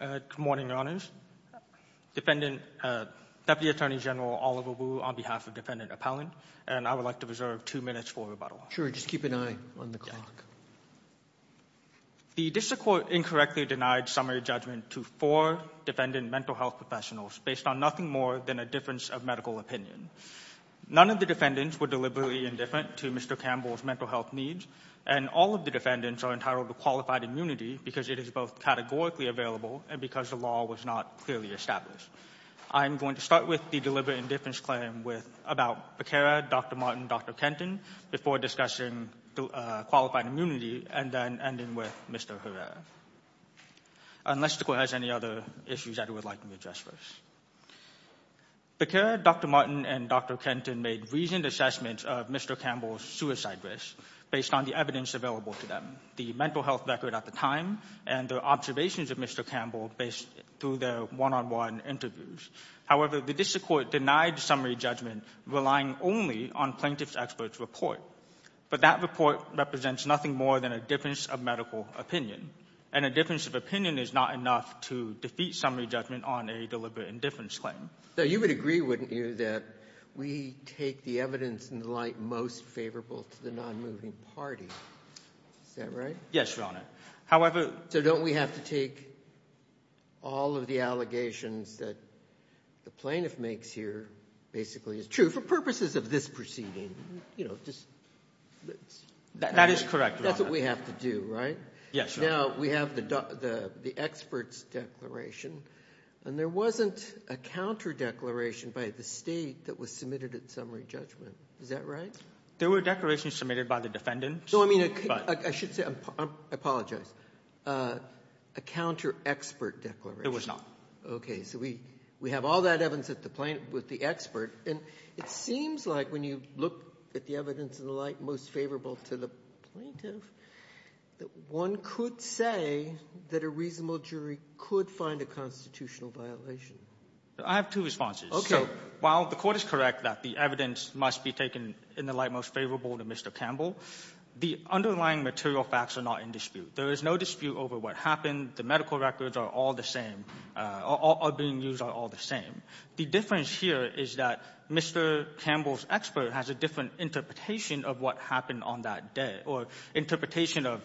Good morning, Your Honors. Deputy Attorney General Oliver Wu on behalf of Defendant Appellant, and I would like to reserve two minutes for rebuttal. Sure, just keep an eye on the clock. The district court incorrectly denied summary judgment to four defendant mental health professionals based on nothing more than a difference of medical opinion. None of the defendants were deliberately indifferent to Mr. Campbell's mental health needs, and all of the defendants are entitled to qualified immunity because it is both categorically available and because the law was not clearly established. I am going to start with the deliberate indifference claim about Becara, Dr. Martin, and Dr. Kenton before discussing qualified immunity and then ending with Mr. Herrera. Unless the court has any other issues that it would like me to address first. Becara, Dr. Martin, and Dr. Kenton made reasoned assessments of Mr. Campbell's suicide risk based on the evidence available to them, the mental health record at the time, and their observations of Mr. Campbell through their one-on-one interviews. However, the district court denied summary judgment, relying only on plaintiff's expert's report. But that report represents nothing more than a difference of medical opinion, and a difference of opinion is not enough to defeat summary judgment on a deliberate indifference claim. So you would agree, wouldn't you, that we take the evidence in the light most favorable to the nonmoving party? Is that right? Yes, Your Honor. So don't we have to take all of the allegations that the plaintiff makes here basically is true for purposes of this proceeding? That is correct, Your Honor. That's what we have to do, right? Yes, Your Honor. Now, we have the expert's declaration, and there wasn't a counter declaration by the State that was submitted at summary judgment. Is that right? There were declarations submitted by the defendants. No, I mean, I should say, I apologize, a counter-expert declaration. There was not. Okay. So we have all that evidence with the expert. And it seems like when you look at the evidence in the light most favorable to the plaintiff, that one could say that a reasonable jury could find a constitutional violation. I have two responses. Okay. So while the court is correct that the evidence must be taken in the light most favorable to Mr. Campbell, the underlying material facts are not in dispute. There is no dispute over what happened. The medical records are all the same, are being used are all the same. The difference here is that Mr. Campbell's expert has a different interpretation of what happened on that day or interpretation of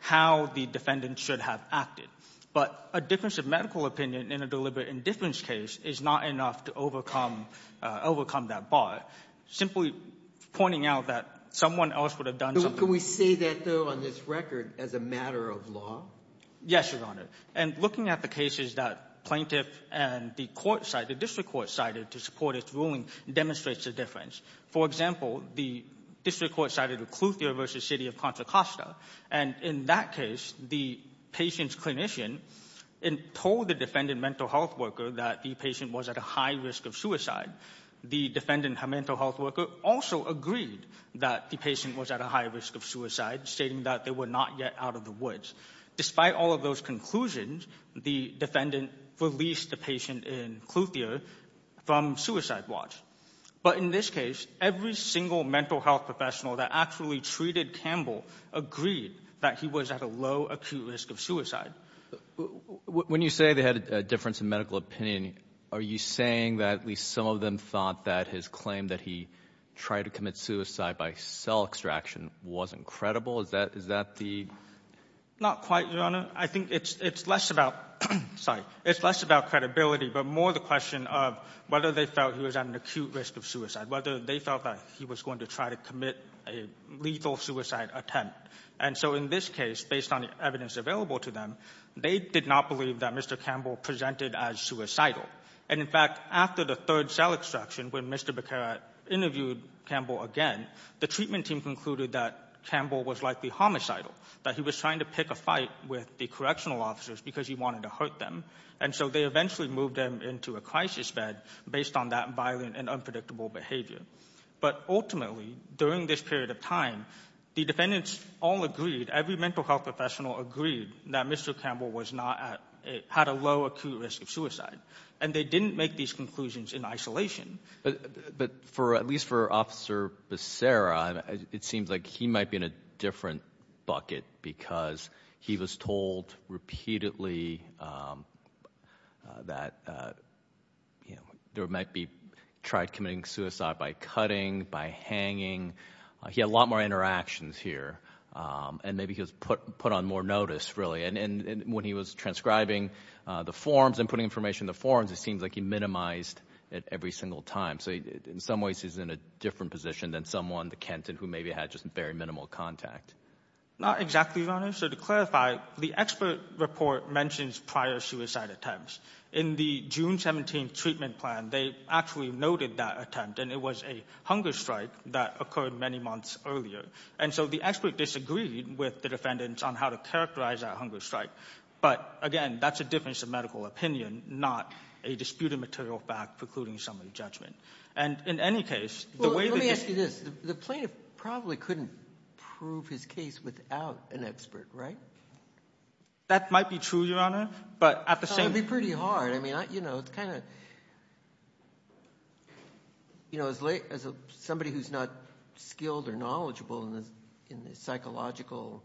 how the defendant should have acted. But a difference of medical opinion in a deliberate indifference case is not enough to overcome that bar. Simply pointing out that someone else would have done something. Can we say that, though, on this record as a matter of law? Yes, Your Honor. And looking at the cases that plaintiff and the court cited, the district court cited, to support its ruling demonstrates a difference. For example, the district court cited Oclithia v. City of Contra Costa. And in that case, the patient's clinician told the defendant mental health worker that the patient was at a high risk of suicide. The defendant mental health worker also agreed that the patient was at a high risk of suicide, stating that they were not yet out of the woods. Despite all of those conclusions, the defendant released the patient in Oclithia from suicide watch. But in this case, every single mental health professional that actually treated Campbell agreed that he was at a low acute risk of suicide. When you say they had a difference of medical opinion, are you saying that at least some of them thought that his claim that he tried to commit suicide by cell extraction wasn't credible? Is that the – Not quite, Your Honor. I think it's less about – sorry. It's less about credibility but more the question of whether they felt he was at an acute risk of suicide, whether they felt that he was going to try to commit a lethal suicide attempt. And so in this case, based on the evidence available to them, they did not believe that Mr. Campbell presented as suicidal. And, in fact, after the third cell extraction, when Mr. Baccarat interviewed Campbell again, the treatment team concluded that Campbell was likely homicidal, that he was trying to pick a fight with the correctional officers because he wanted to hurt them. And so they eventually moved him into a crisis bed based on that violent and unpredictable behavior. But ultimately, during this period of time, the defendants all agreed, every mental health professional agreed, that Mr. Campbell was not at – had a low acute risk of suicide. And they didn't make these conclusions in isolation. But for – at least for Officer Becerra, it seems like he might be in a different bucket because he was told repeatedly that there might be – tried committing suicide by cutting, by hanging. He had a lot more interactions here. And maybe he was put on more notice, really. And when he was transcribing the forms and putting information in the forms, it seems like he minimized it every single time. So in some ways, he's in a different position than someone, the Kenton, who maybe had just very minimal contact. Not exactly, Your Honor. So to clarify, the expert report mentions prior suicide attempts. In the June 17 treatment plan, they actually noted that attempt, and it was a hunger strike that occurred many months earlier. And so the expert disagreed with the defendants on how to characterize that hunger strike. But again, that's a difference of medical opinion, not a disputed material fact precluding someone's judgment. And in any case, the way that this – Well, let me ask you this. The plaintiff probably couldn't prove his case without an expert, right? That might be true, Your Honor. But at the same – That would be pretty hard. I mean, you know, it's kind of – you know, as somebody who's not skilled or knowledgeable in the psychological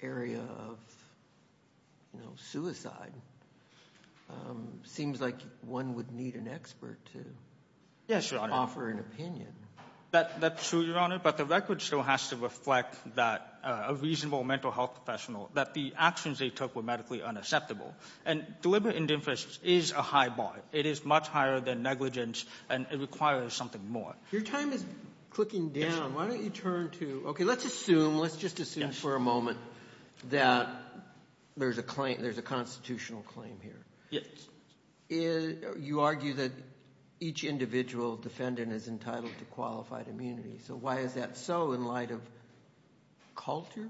area of, you know, suicide, it seems like one would need an expert to offer an opinion. That's true, Your Honor. But the record still has to reflect that a reasonable mental health professional, that the actions they took were medically unacceptable. And deliberate indifference is a high bar. It is much higher than negligence, and it requires something more. Your time is clicking down. Why don't you turn to – Okay, let's assume, let's just assume for a moment that there's a constitutional claim here. Yes. You argue that each individual defendant is entitled to qualified immunity. So why is that so in light of culture?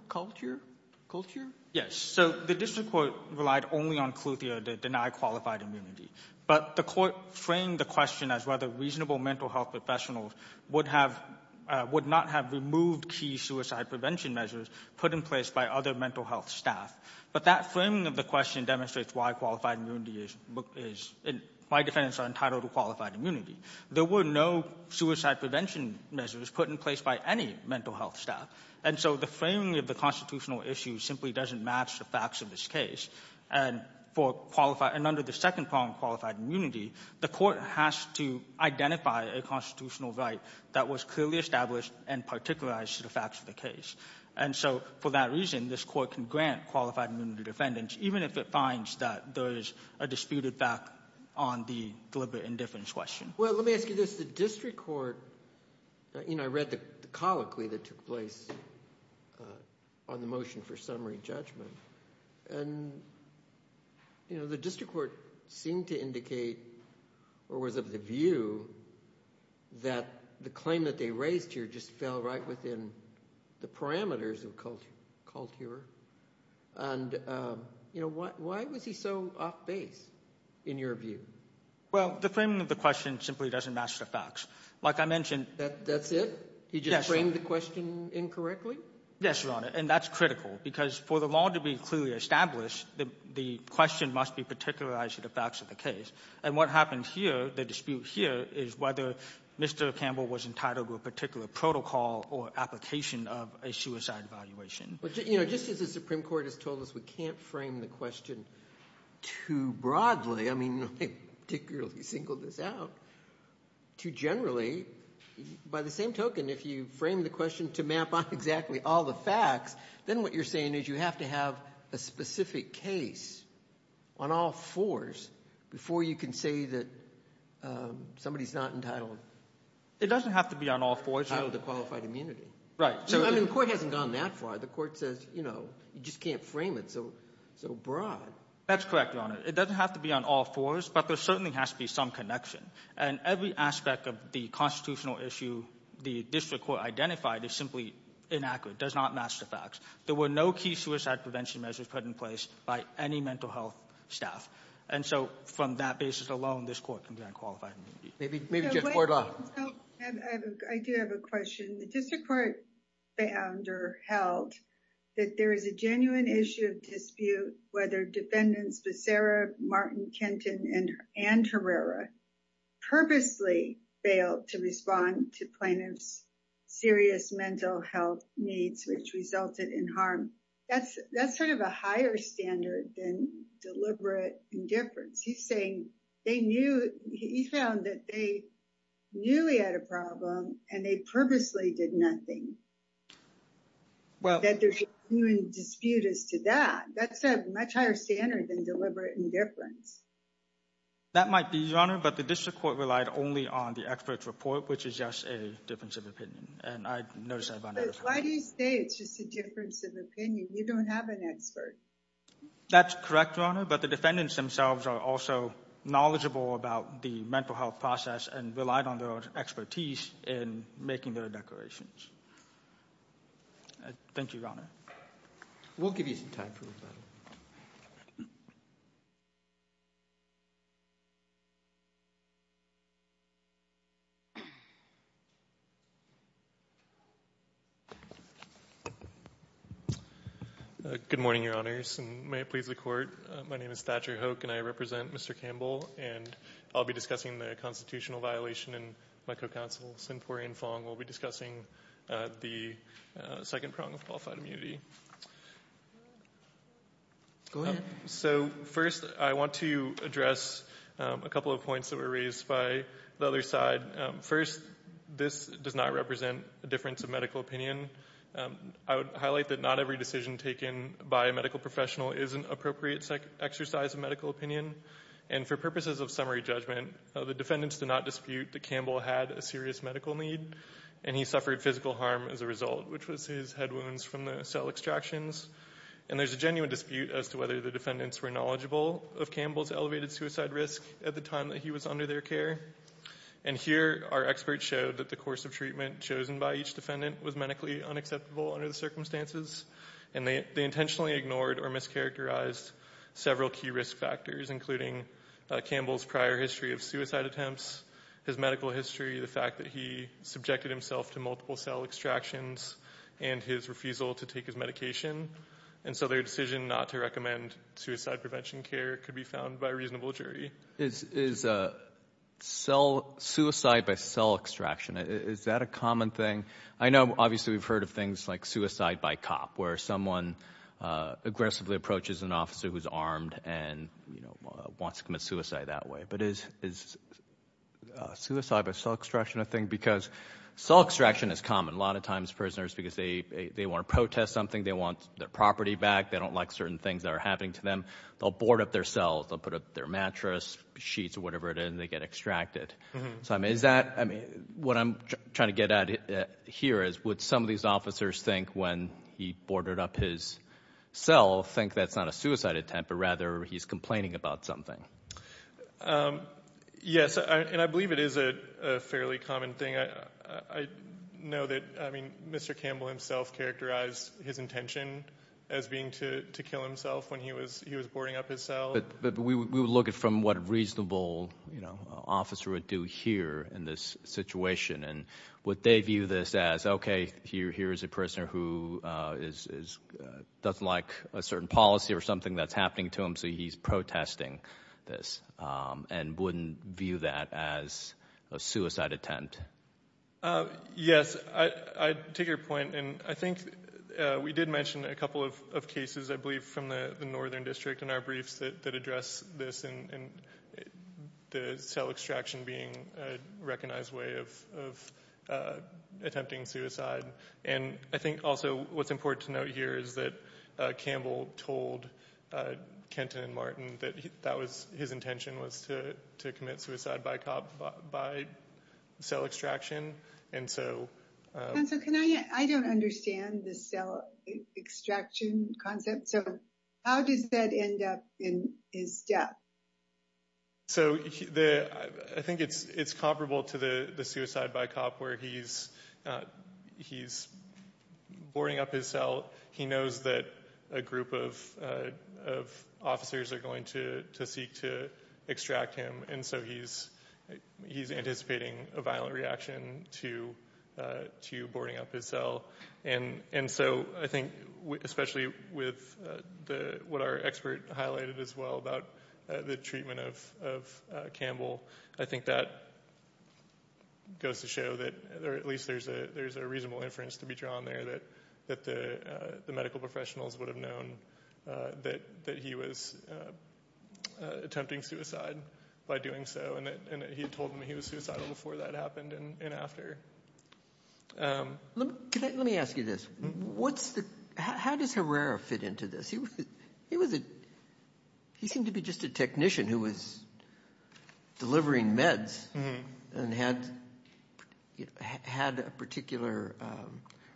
Yes. So the district court relied only on Cluthia to deny qualified immunity. But the court framed the question as whether reasonable mental health professionals would have – would not have removed key suicide prevention measures put in place by other mental health staff. But that framing of the question demonstrates why qualified immunity is – my defendants are entitled to qualified immunity. There were no suicide prevention measures put in place by any mental health staff. And so the framing of the constitutional issue simply doesn't match the facts of this case. And for qualified – and under the second problem, qualified immunity, the court has to identify a constitutional right that was clearly established and particularized to the facts of the case. And so for that reason, this court can grant qualified immunity to defendants, even if it finds that those are disputed back on the deliberate indifference question. Well, let me ask you this. The district court – I read the colloquy that took place on the motion for summary judgment. And the district court seemed to indicate or was of the view that the claim that they raised here just fell right within the parameters of culture. And, you know, why was he so off base in your view? Well, the framing of the question simply doesn't match the facts. Like I mentioned – That's it? He just framed the question incorrectly? Yes, Your Honor. And that's critical because for the law to be clearly established, the question must be particularized to the facts of the case. And what happens here, the dispute here, is whether Mr. Campbell was entitled to a particular protocol or application of a suicide evaluation. But, you know, just as the Supreme Court has told us we can't frame the question too broadly – I mean, I particularly singled this out – to generally, by the same token, if you frame the question to map out exactly all the facts, then what you're saying is you have to have a specific case on all fours before you can say that somebody is not entitled. It doesn't have to be on all fours. Entitled to qualified immunity. Right. I mean, the court hasn't gone that far. The court says, you know, you just can't frame it so broad. That's correct, Your Honor. It doesn't have to be on all fours, but there certainly has to be some connection. And every aspect of the constitutional issue the district court identified is simply inaccurate, does not match the facts. There were no key suicide prevention measures put in place by any mental health staff. And so from that basis alone, this court can grant qualified immunity. Maybe just for the law. I do have a question. The district court found or held that there is a genuine issue of dispute whether defendants Becerra, Martin, Kenton, and Herrera purposely failed to respond to plaintiffs' serious mental health needs, which resulted in harm. That's sort of a higher standard than deliberate indifference. He's saying they knew, he found that they knew they had a problem and they purposely did nothing. That there's a genuine dispute as to that. That's a much higher standard than deliberate indifference. That might be, Your Honor, but the district court relied only on the expert's report, which is just a difference of opinion. And I noticed that about every time. Why do you say it's just a difference of opinion? You don't have an expert. That's correct, Your Honor. But the defendants themselves are also knowledgeable about the mental health process and relied on their own expertise in making their declarations. Thank you, Your Honor. We'll give you some time for rebuttal. Good morning, Your Honors, and may it please the Court. My name is Thatcher Hoke, and I represent Mr. Campbell, and I'll be discussing the constitutional violation in my co-counsel Sinpuri and Fong. We'll be discussing the second prong of qualified immunity. Go ahead. So, first, I want to address a couple of points that were raised by the other side. First, this does not represent a difference of medical opinion. I would highlight that not every decision taken by a medical professional is an appropriate exercise of medical opinion. And for purposes of summary judgment, the defendants did not dispute that Campbell had a serious medical need, and he suffered physical harm as a result, which was his head wounds from the cell extractions. And there's a genuine dispute as to whether the defendants were knowledgeable of Campbell's elevated suicide risk at the time that he was under their care. And here, our experts showed that the course of treatment chosen by each defendant was medically unacceptable under the circumstances, and they intentionally ignored or mischaracterized several key risk factors, including Campbell's prior history of suicide attempts, his medical history, the fact that he subjected himself to multiple cell extractions, and his refusal to take his medication. And so their decision not to recommend suicide prevention care could be found by a reasonable jury. Is suicide by cell extraction, is that a common thing? I know, obviously, we've heard of things like suicide by cop, where someone aggressively approaches an officer who's armed and wants to commit suicide that way. But is suicide by cell extraction a thing? Because cell extraction is common. A lot of times prisoners, because they want to protest something, they want their property back, they don't like certain things that are happening to them, they'll board up their cells, they'll put up their mattress, sheets, or whatever it is, and they get extracted. What I'm trying to get at here is, would some of these officers think when he boarded up his cell, think that's not a suicide attempt, but rather he's complaining about something? Yes, and I believe it is a fairly common thing. I know that Mr. Campbell himself characterized his intention as being to kill himself when he was boarding up his cell. But we would look at it from what a reasonable officer would do here in this situation. And would they view this as, OK, here is a prisoner who doesn't like a certain policy or something that's happening to him, so he's protesting this, and wouldn't view that as a suicide attempt? Yes, I take your point. And I think we did mention a couple of cases, I believe, from the Northern District in our briefs that address this, and the cell extraction being a recognized way of attempting suicide. And I think also what's important to note here is that Campbell told Kenton and Martin that his intention was to commit suicide by cell extraction, and so... Counsel, I don't understand the cell extraction concept. So how does that end up in his death? So I think it's comparable to the suicide by cop, where he's boarding up his cell. He knows that a group of officers are going to seek to extract him, and so he's anticipating a violent reaction to boarding up his cell. And so I think especially with what our expert highlighted as well about the treatment of Campbell, I think that goes to show that at least there's a reasonable inference to be drawn there that the medical professionals would have known that he was attempting suicide by doing so, and that he had told them he was suicidal before that happened and after. Let me ask you this. How does Herrera fit into this? He seemed to be just a technician who was delivering meds and had a particular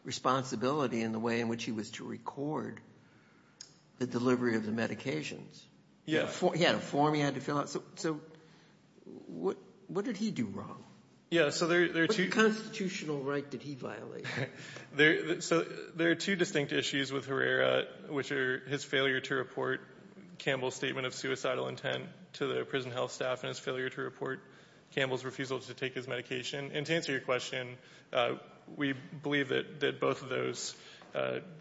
responsibility in the way in which he was to record the delivery of the medications. He had a form he had to fill out. So what did he do wrong? What constitutional right did he violate? There are two distinct issues with Herrera, which are his failure to report Campbell's statement of suicidal intent to the prison health staff and his failure to report Campbell's refusal to take his medication. And to answer your question, we believe that both of those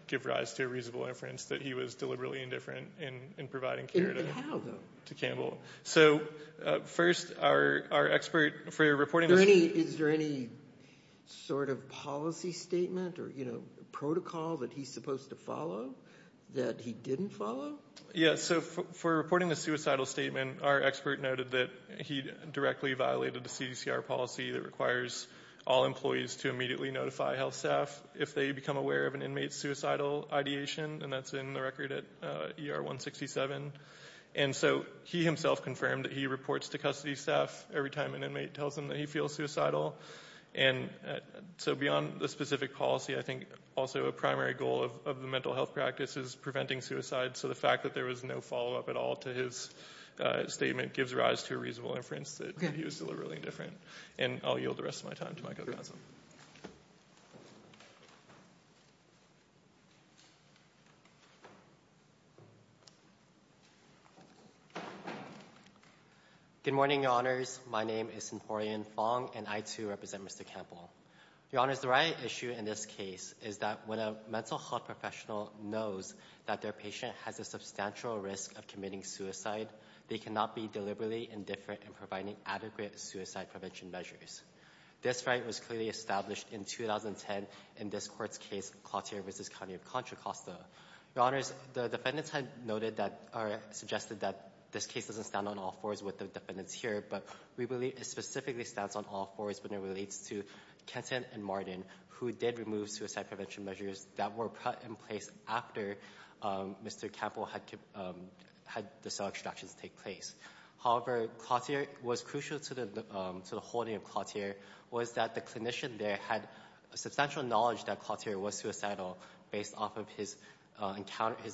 give rise to a reasonable inference that he was deliberately indifferent in providing care to Campbell. And how, though? So, first, our expert for reporting... Is there any sort of policy statement or, you know, protocol that he's supposed to follow that he didn't follow? Yeah, so for reporting the suicidal statement, our expert noted that he directly violated the CDCR policy that requires all employees to immediately notify health staff if they become aware of an inmate's suicidal ideation, and that's in the record at ER 167. And so he himself confirmed that he reports to custody staff every time an inmate tells him that he feels suicidal. And so beyond the specific policy, I think also a primary goal of the mental health practice is preventing suicide, so the fact that there was no follow-up at all to his statement gives rise to a reasonable inference that he was deliberately indifferent. And I'll yield the rest of my time to my co-panelists. Good morning, Your Honors. My name is Sinporian Fong, and I, too, represent Mr. Campbell. Your Honors, the riot issue in this case is that when a mental health professional knows that their patient has a substantial risk of committing suicide, they cannot be deliberately indifferent in providing adequate suicide prevention measures. This right was clearly established in 2010 in this court's case, Clottier v. County of Contra Costa. Your Honors, the defendants had noted or suggested that this case doesn't stand on all fours with the defendants here, but we believe it specifically stands on all fours when it relates to Kenton and Martin, who did remove suicide prevention measures that were put in place after Mr. Campbell had the cell extractions take place. However, what was crucial to the holding of Clottier was that the clinician there had substantial knowledge that Clottier was suicidal based off of his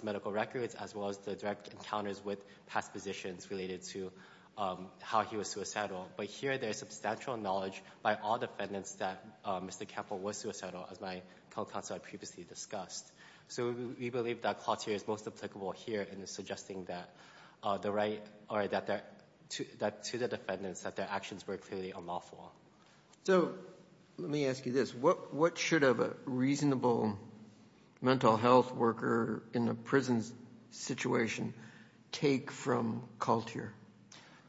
medical records as well as the direct encounters with past physicians related to how he was suicidal. But here there is substantial knowledge by all defendants that Mr. Campbell was suicidal, as my co-counsel had previously discussed. So we believe that Clottier is most applicable here in suggesting that the right or that to the defendants that their actions were clearly unlawful. So let me ask you this. What should a reasonable mental health worker in a prison situation take from Clottier?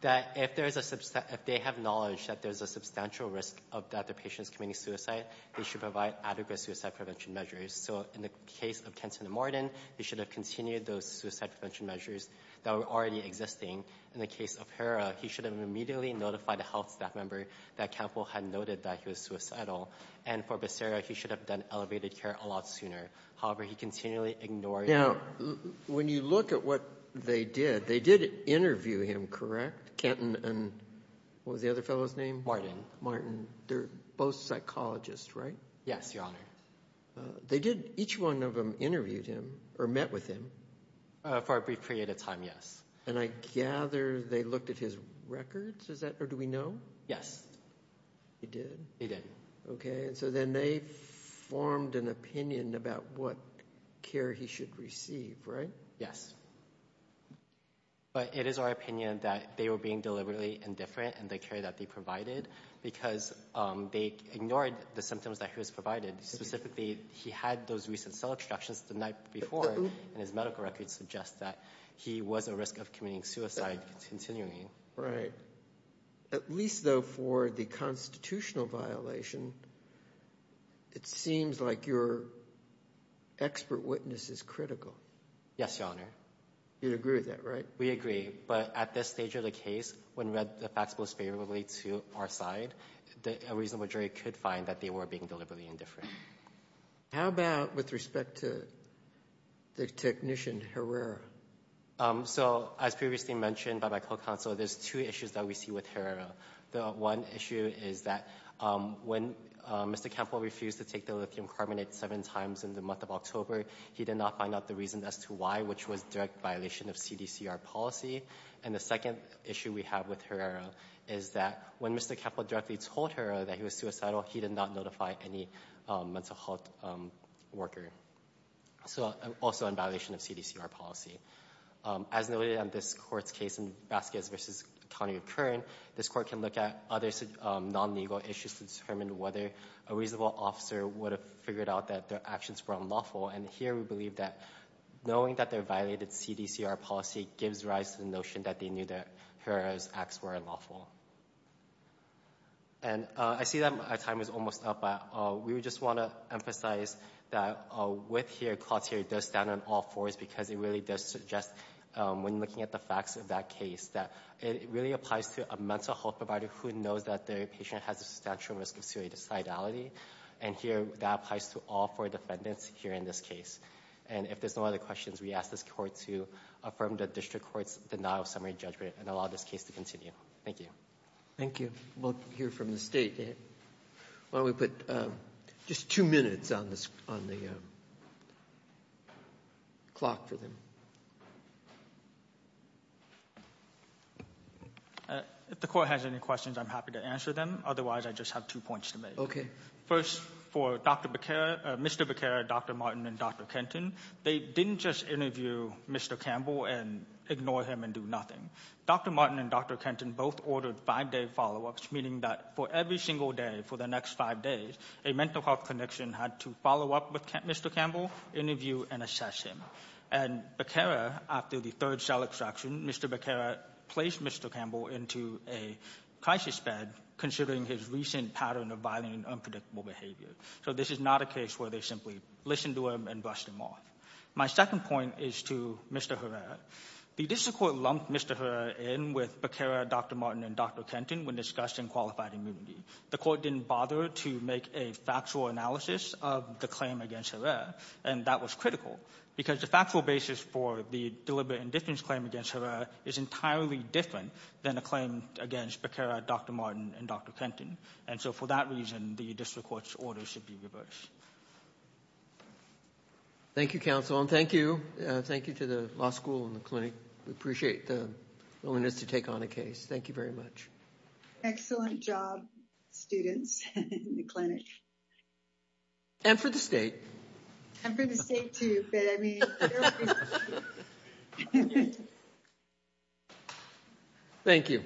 That if they have knowledge that there's a substantial risk of that the patient's committing suicide, they should provide adequate suicide prevention measures. So in the case of Kenton and Martin, they should have continued those suicide prevention measures that were already existing. In the case of Hera, he should have immediately notified a health staff member that Campbell had noted that he was suicidal. And for Becerra, he should have done elevated care a lot sooner. However, he continually ignored... Now, when you look at what they did, they did interview him, correct? Kenton and what was the other fellow's name? Martin. They're both psychologists, right? Yes, Your Honor. They did. Each one of them interviewed him or met with him? For a brief period of time, yes. And I gather they looked at his records? Or do we know? Yes. He did? He did. Okay. And so then they formed an opinion about what care he should receive, right? Yes. But it is our opinion that they were being deliberately indifferent in the care that they provided because they ignored the symptoms that he was provided. Specifically, he had those recent cell extractions the night before and his medical records suggest that he was at risk of committing suicide continuing. Right. At least, though, for the constitutional violation, it seems like your expert witness is critical. Yes, Your Honor. You'd agree with that, right? We agree. But at this stage of the case, when we read the facts most favorably to our side, a reasonable jury could find that they were being deliberately indifferent. How about with respect to the technician Herrera? So, as previously mentioned by my co-counsel, there's two issues that we see with Herrera. The one issue is that when Mr. Kemple refused to take the lithium carbonate seven times in the month of October, he did not find out the reason as to why, which was direct violation of CDCR policy. And the second issue we have with Herrera is that when Mr. Kemple directly told Herrera that he was suicidal, he did not notify any mental health worker, also in violation of CDCR policy. As noted in this court's case in Vasquez v. County of Kern, this court can look at other non-legal issues to determine whether a reasonable officer would have figured out that their actions were unlawful. And here we believe that knowing that they violated CDCR policy gives rise to the notion that they knew that Herrera's acts were unlawful. And I see that my time is almost up. We just want to emphasize that with here, this clause here does stand on all fours because it really does suggest when looking at the facts of that case that it really applies to a mental health provider who knows that their patient has a substantial risk of suicidality. And here that applies to all four defendants here in this case. And if there's no other questions, we ask this court to affirm the district court's denial of summary judgment and allow this case to continue. Thank you. Thank you. We'll hear from the State. Why don't we put just two minutes on the clock for them. If the court has any questions, I'm happy to answer them. Otherwise, I just have two points to make. First, for Mr. Beckera, Dr. Martin, and Dr. Kenton, they didn't just interview Mr. Campbell and ignore him and do nothing. Dr. Martin and Dr. Kenton both ordered five-day follow-ups, meaning that for every single day for the next five days, a mental health clinician had to follow up with Mr. Campbell, interview, and assess him. And Beckera, after the third cell extraction, Mr. Beckera placed Mr. Campbell into a crisis bed considering his recent pattern of violent and unpredictable behavior. So this is not a case where they simply listened to him and brushed him off. My second point is to Mr. Herrera. The district court lumped Mr. Herrera in with Beckera, Dr. Martin, and Dr. Kenton when discussing qualified immunity. The court didn't bother to make a factual analysis of the claim against Herrera, and that was critical because the factual basis for the deliberate indifference claim against Herrera is entirely different than a claim against Beckera, Dr. Martin, and Dr. Kenton. And so for that reason, the district court's order should be reversed. Thank you, counsel, and thank you. Thank you to the law school and the clinic. We appreciate the willingness to take on a case. Thank you very much. Excellent job, students, and the clinic. And for the state. And for the state, too. But, I mean... Thank you.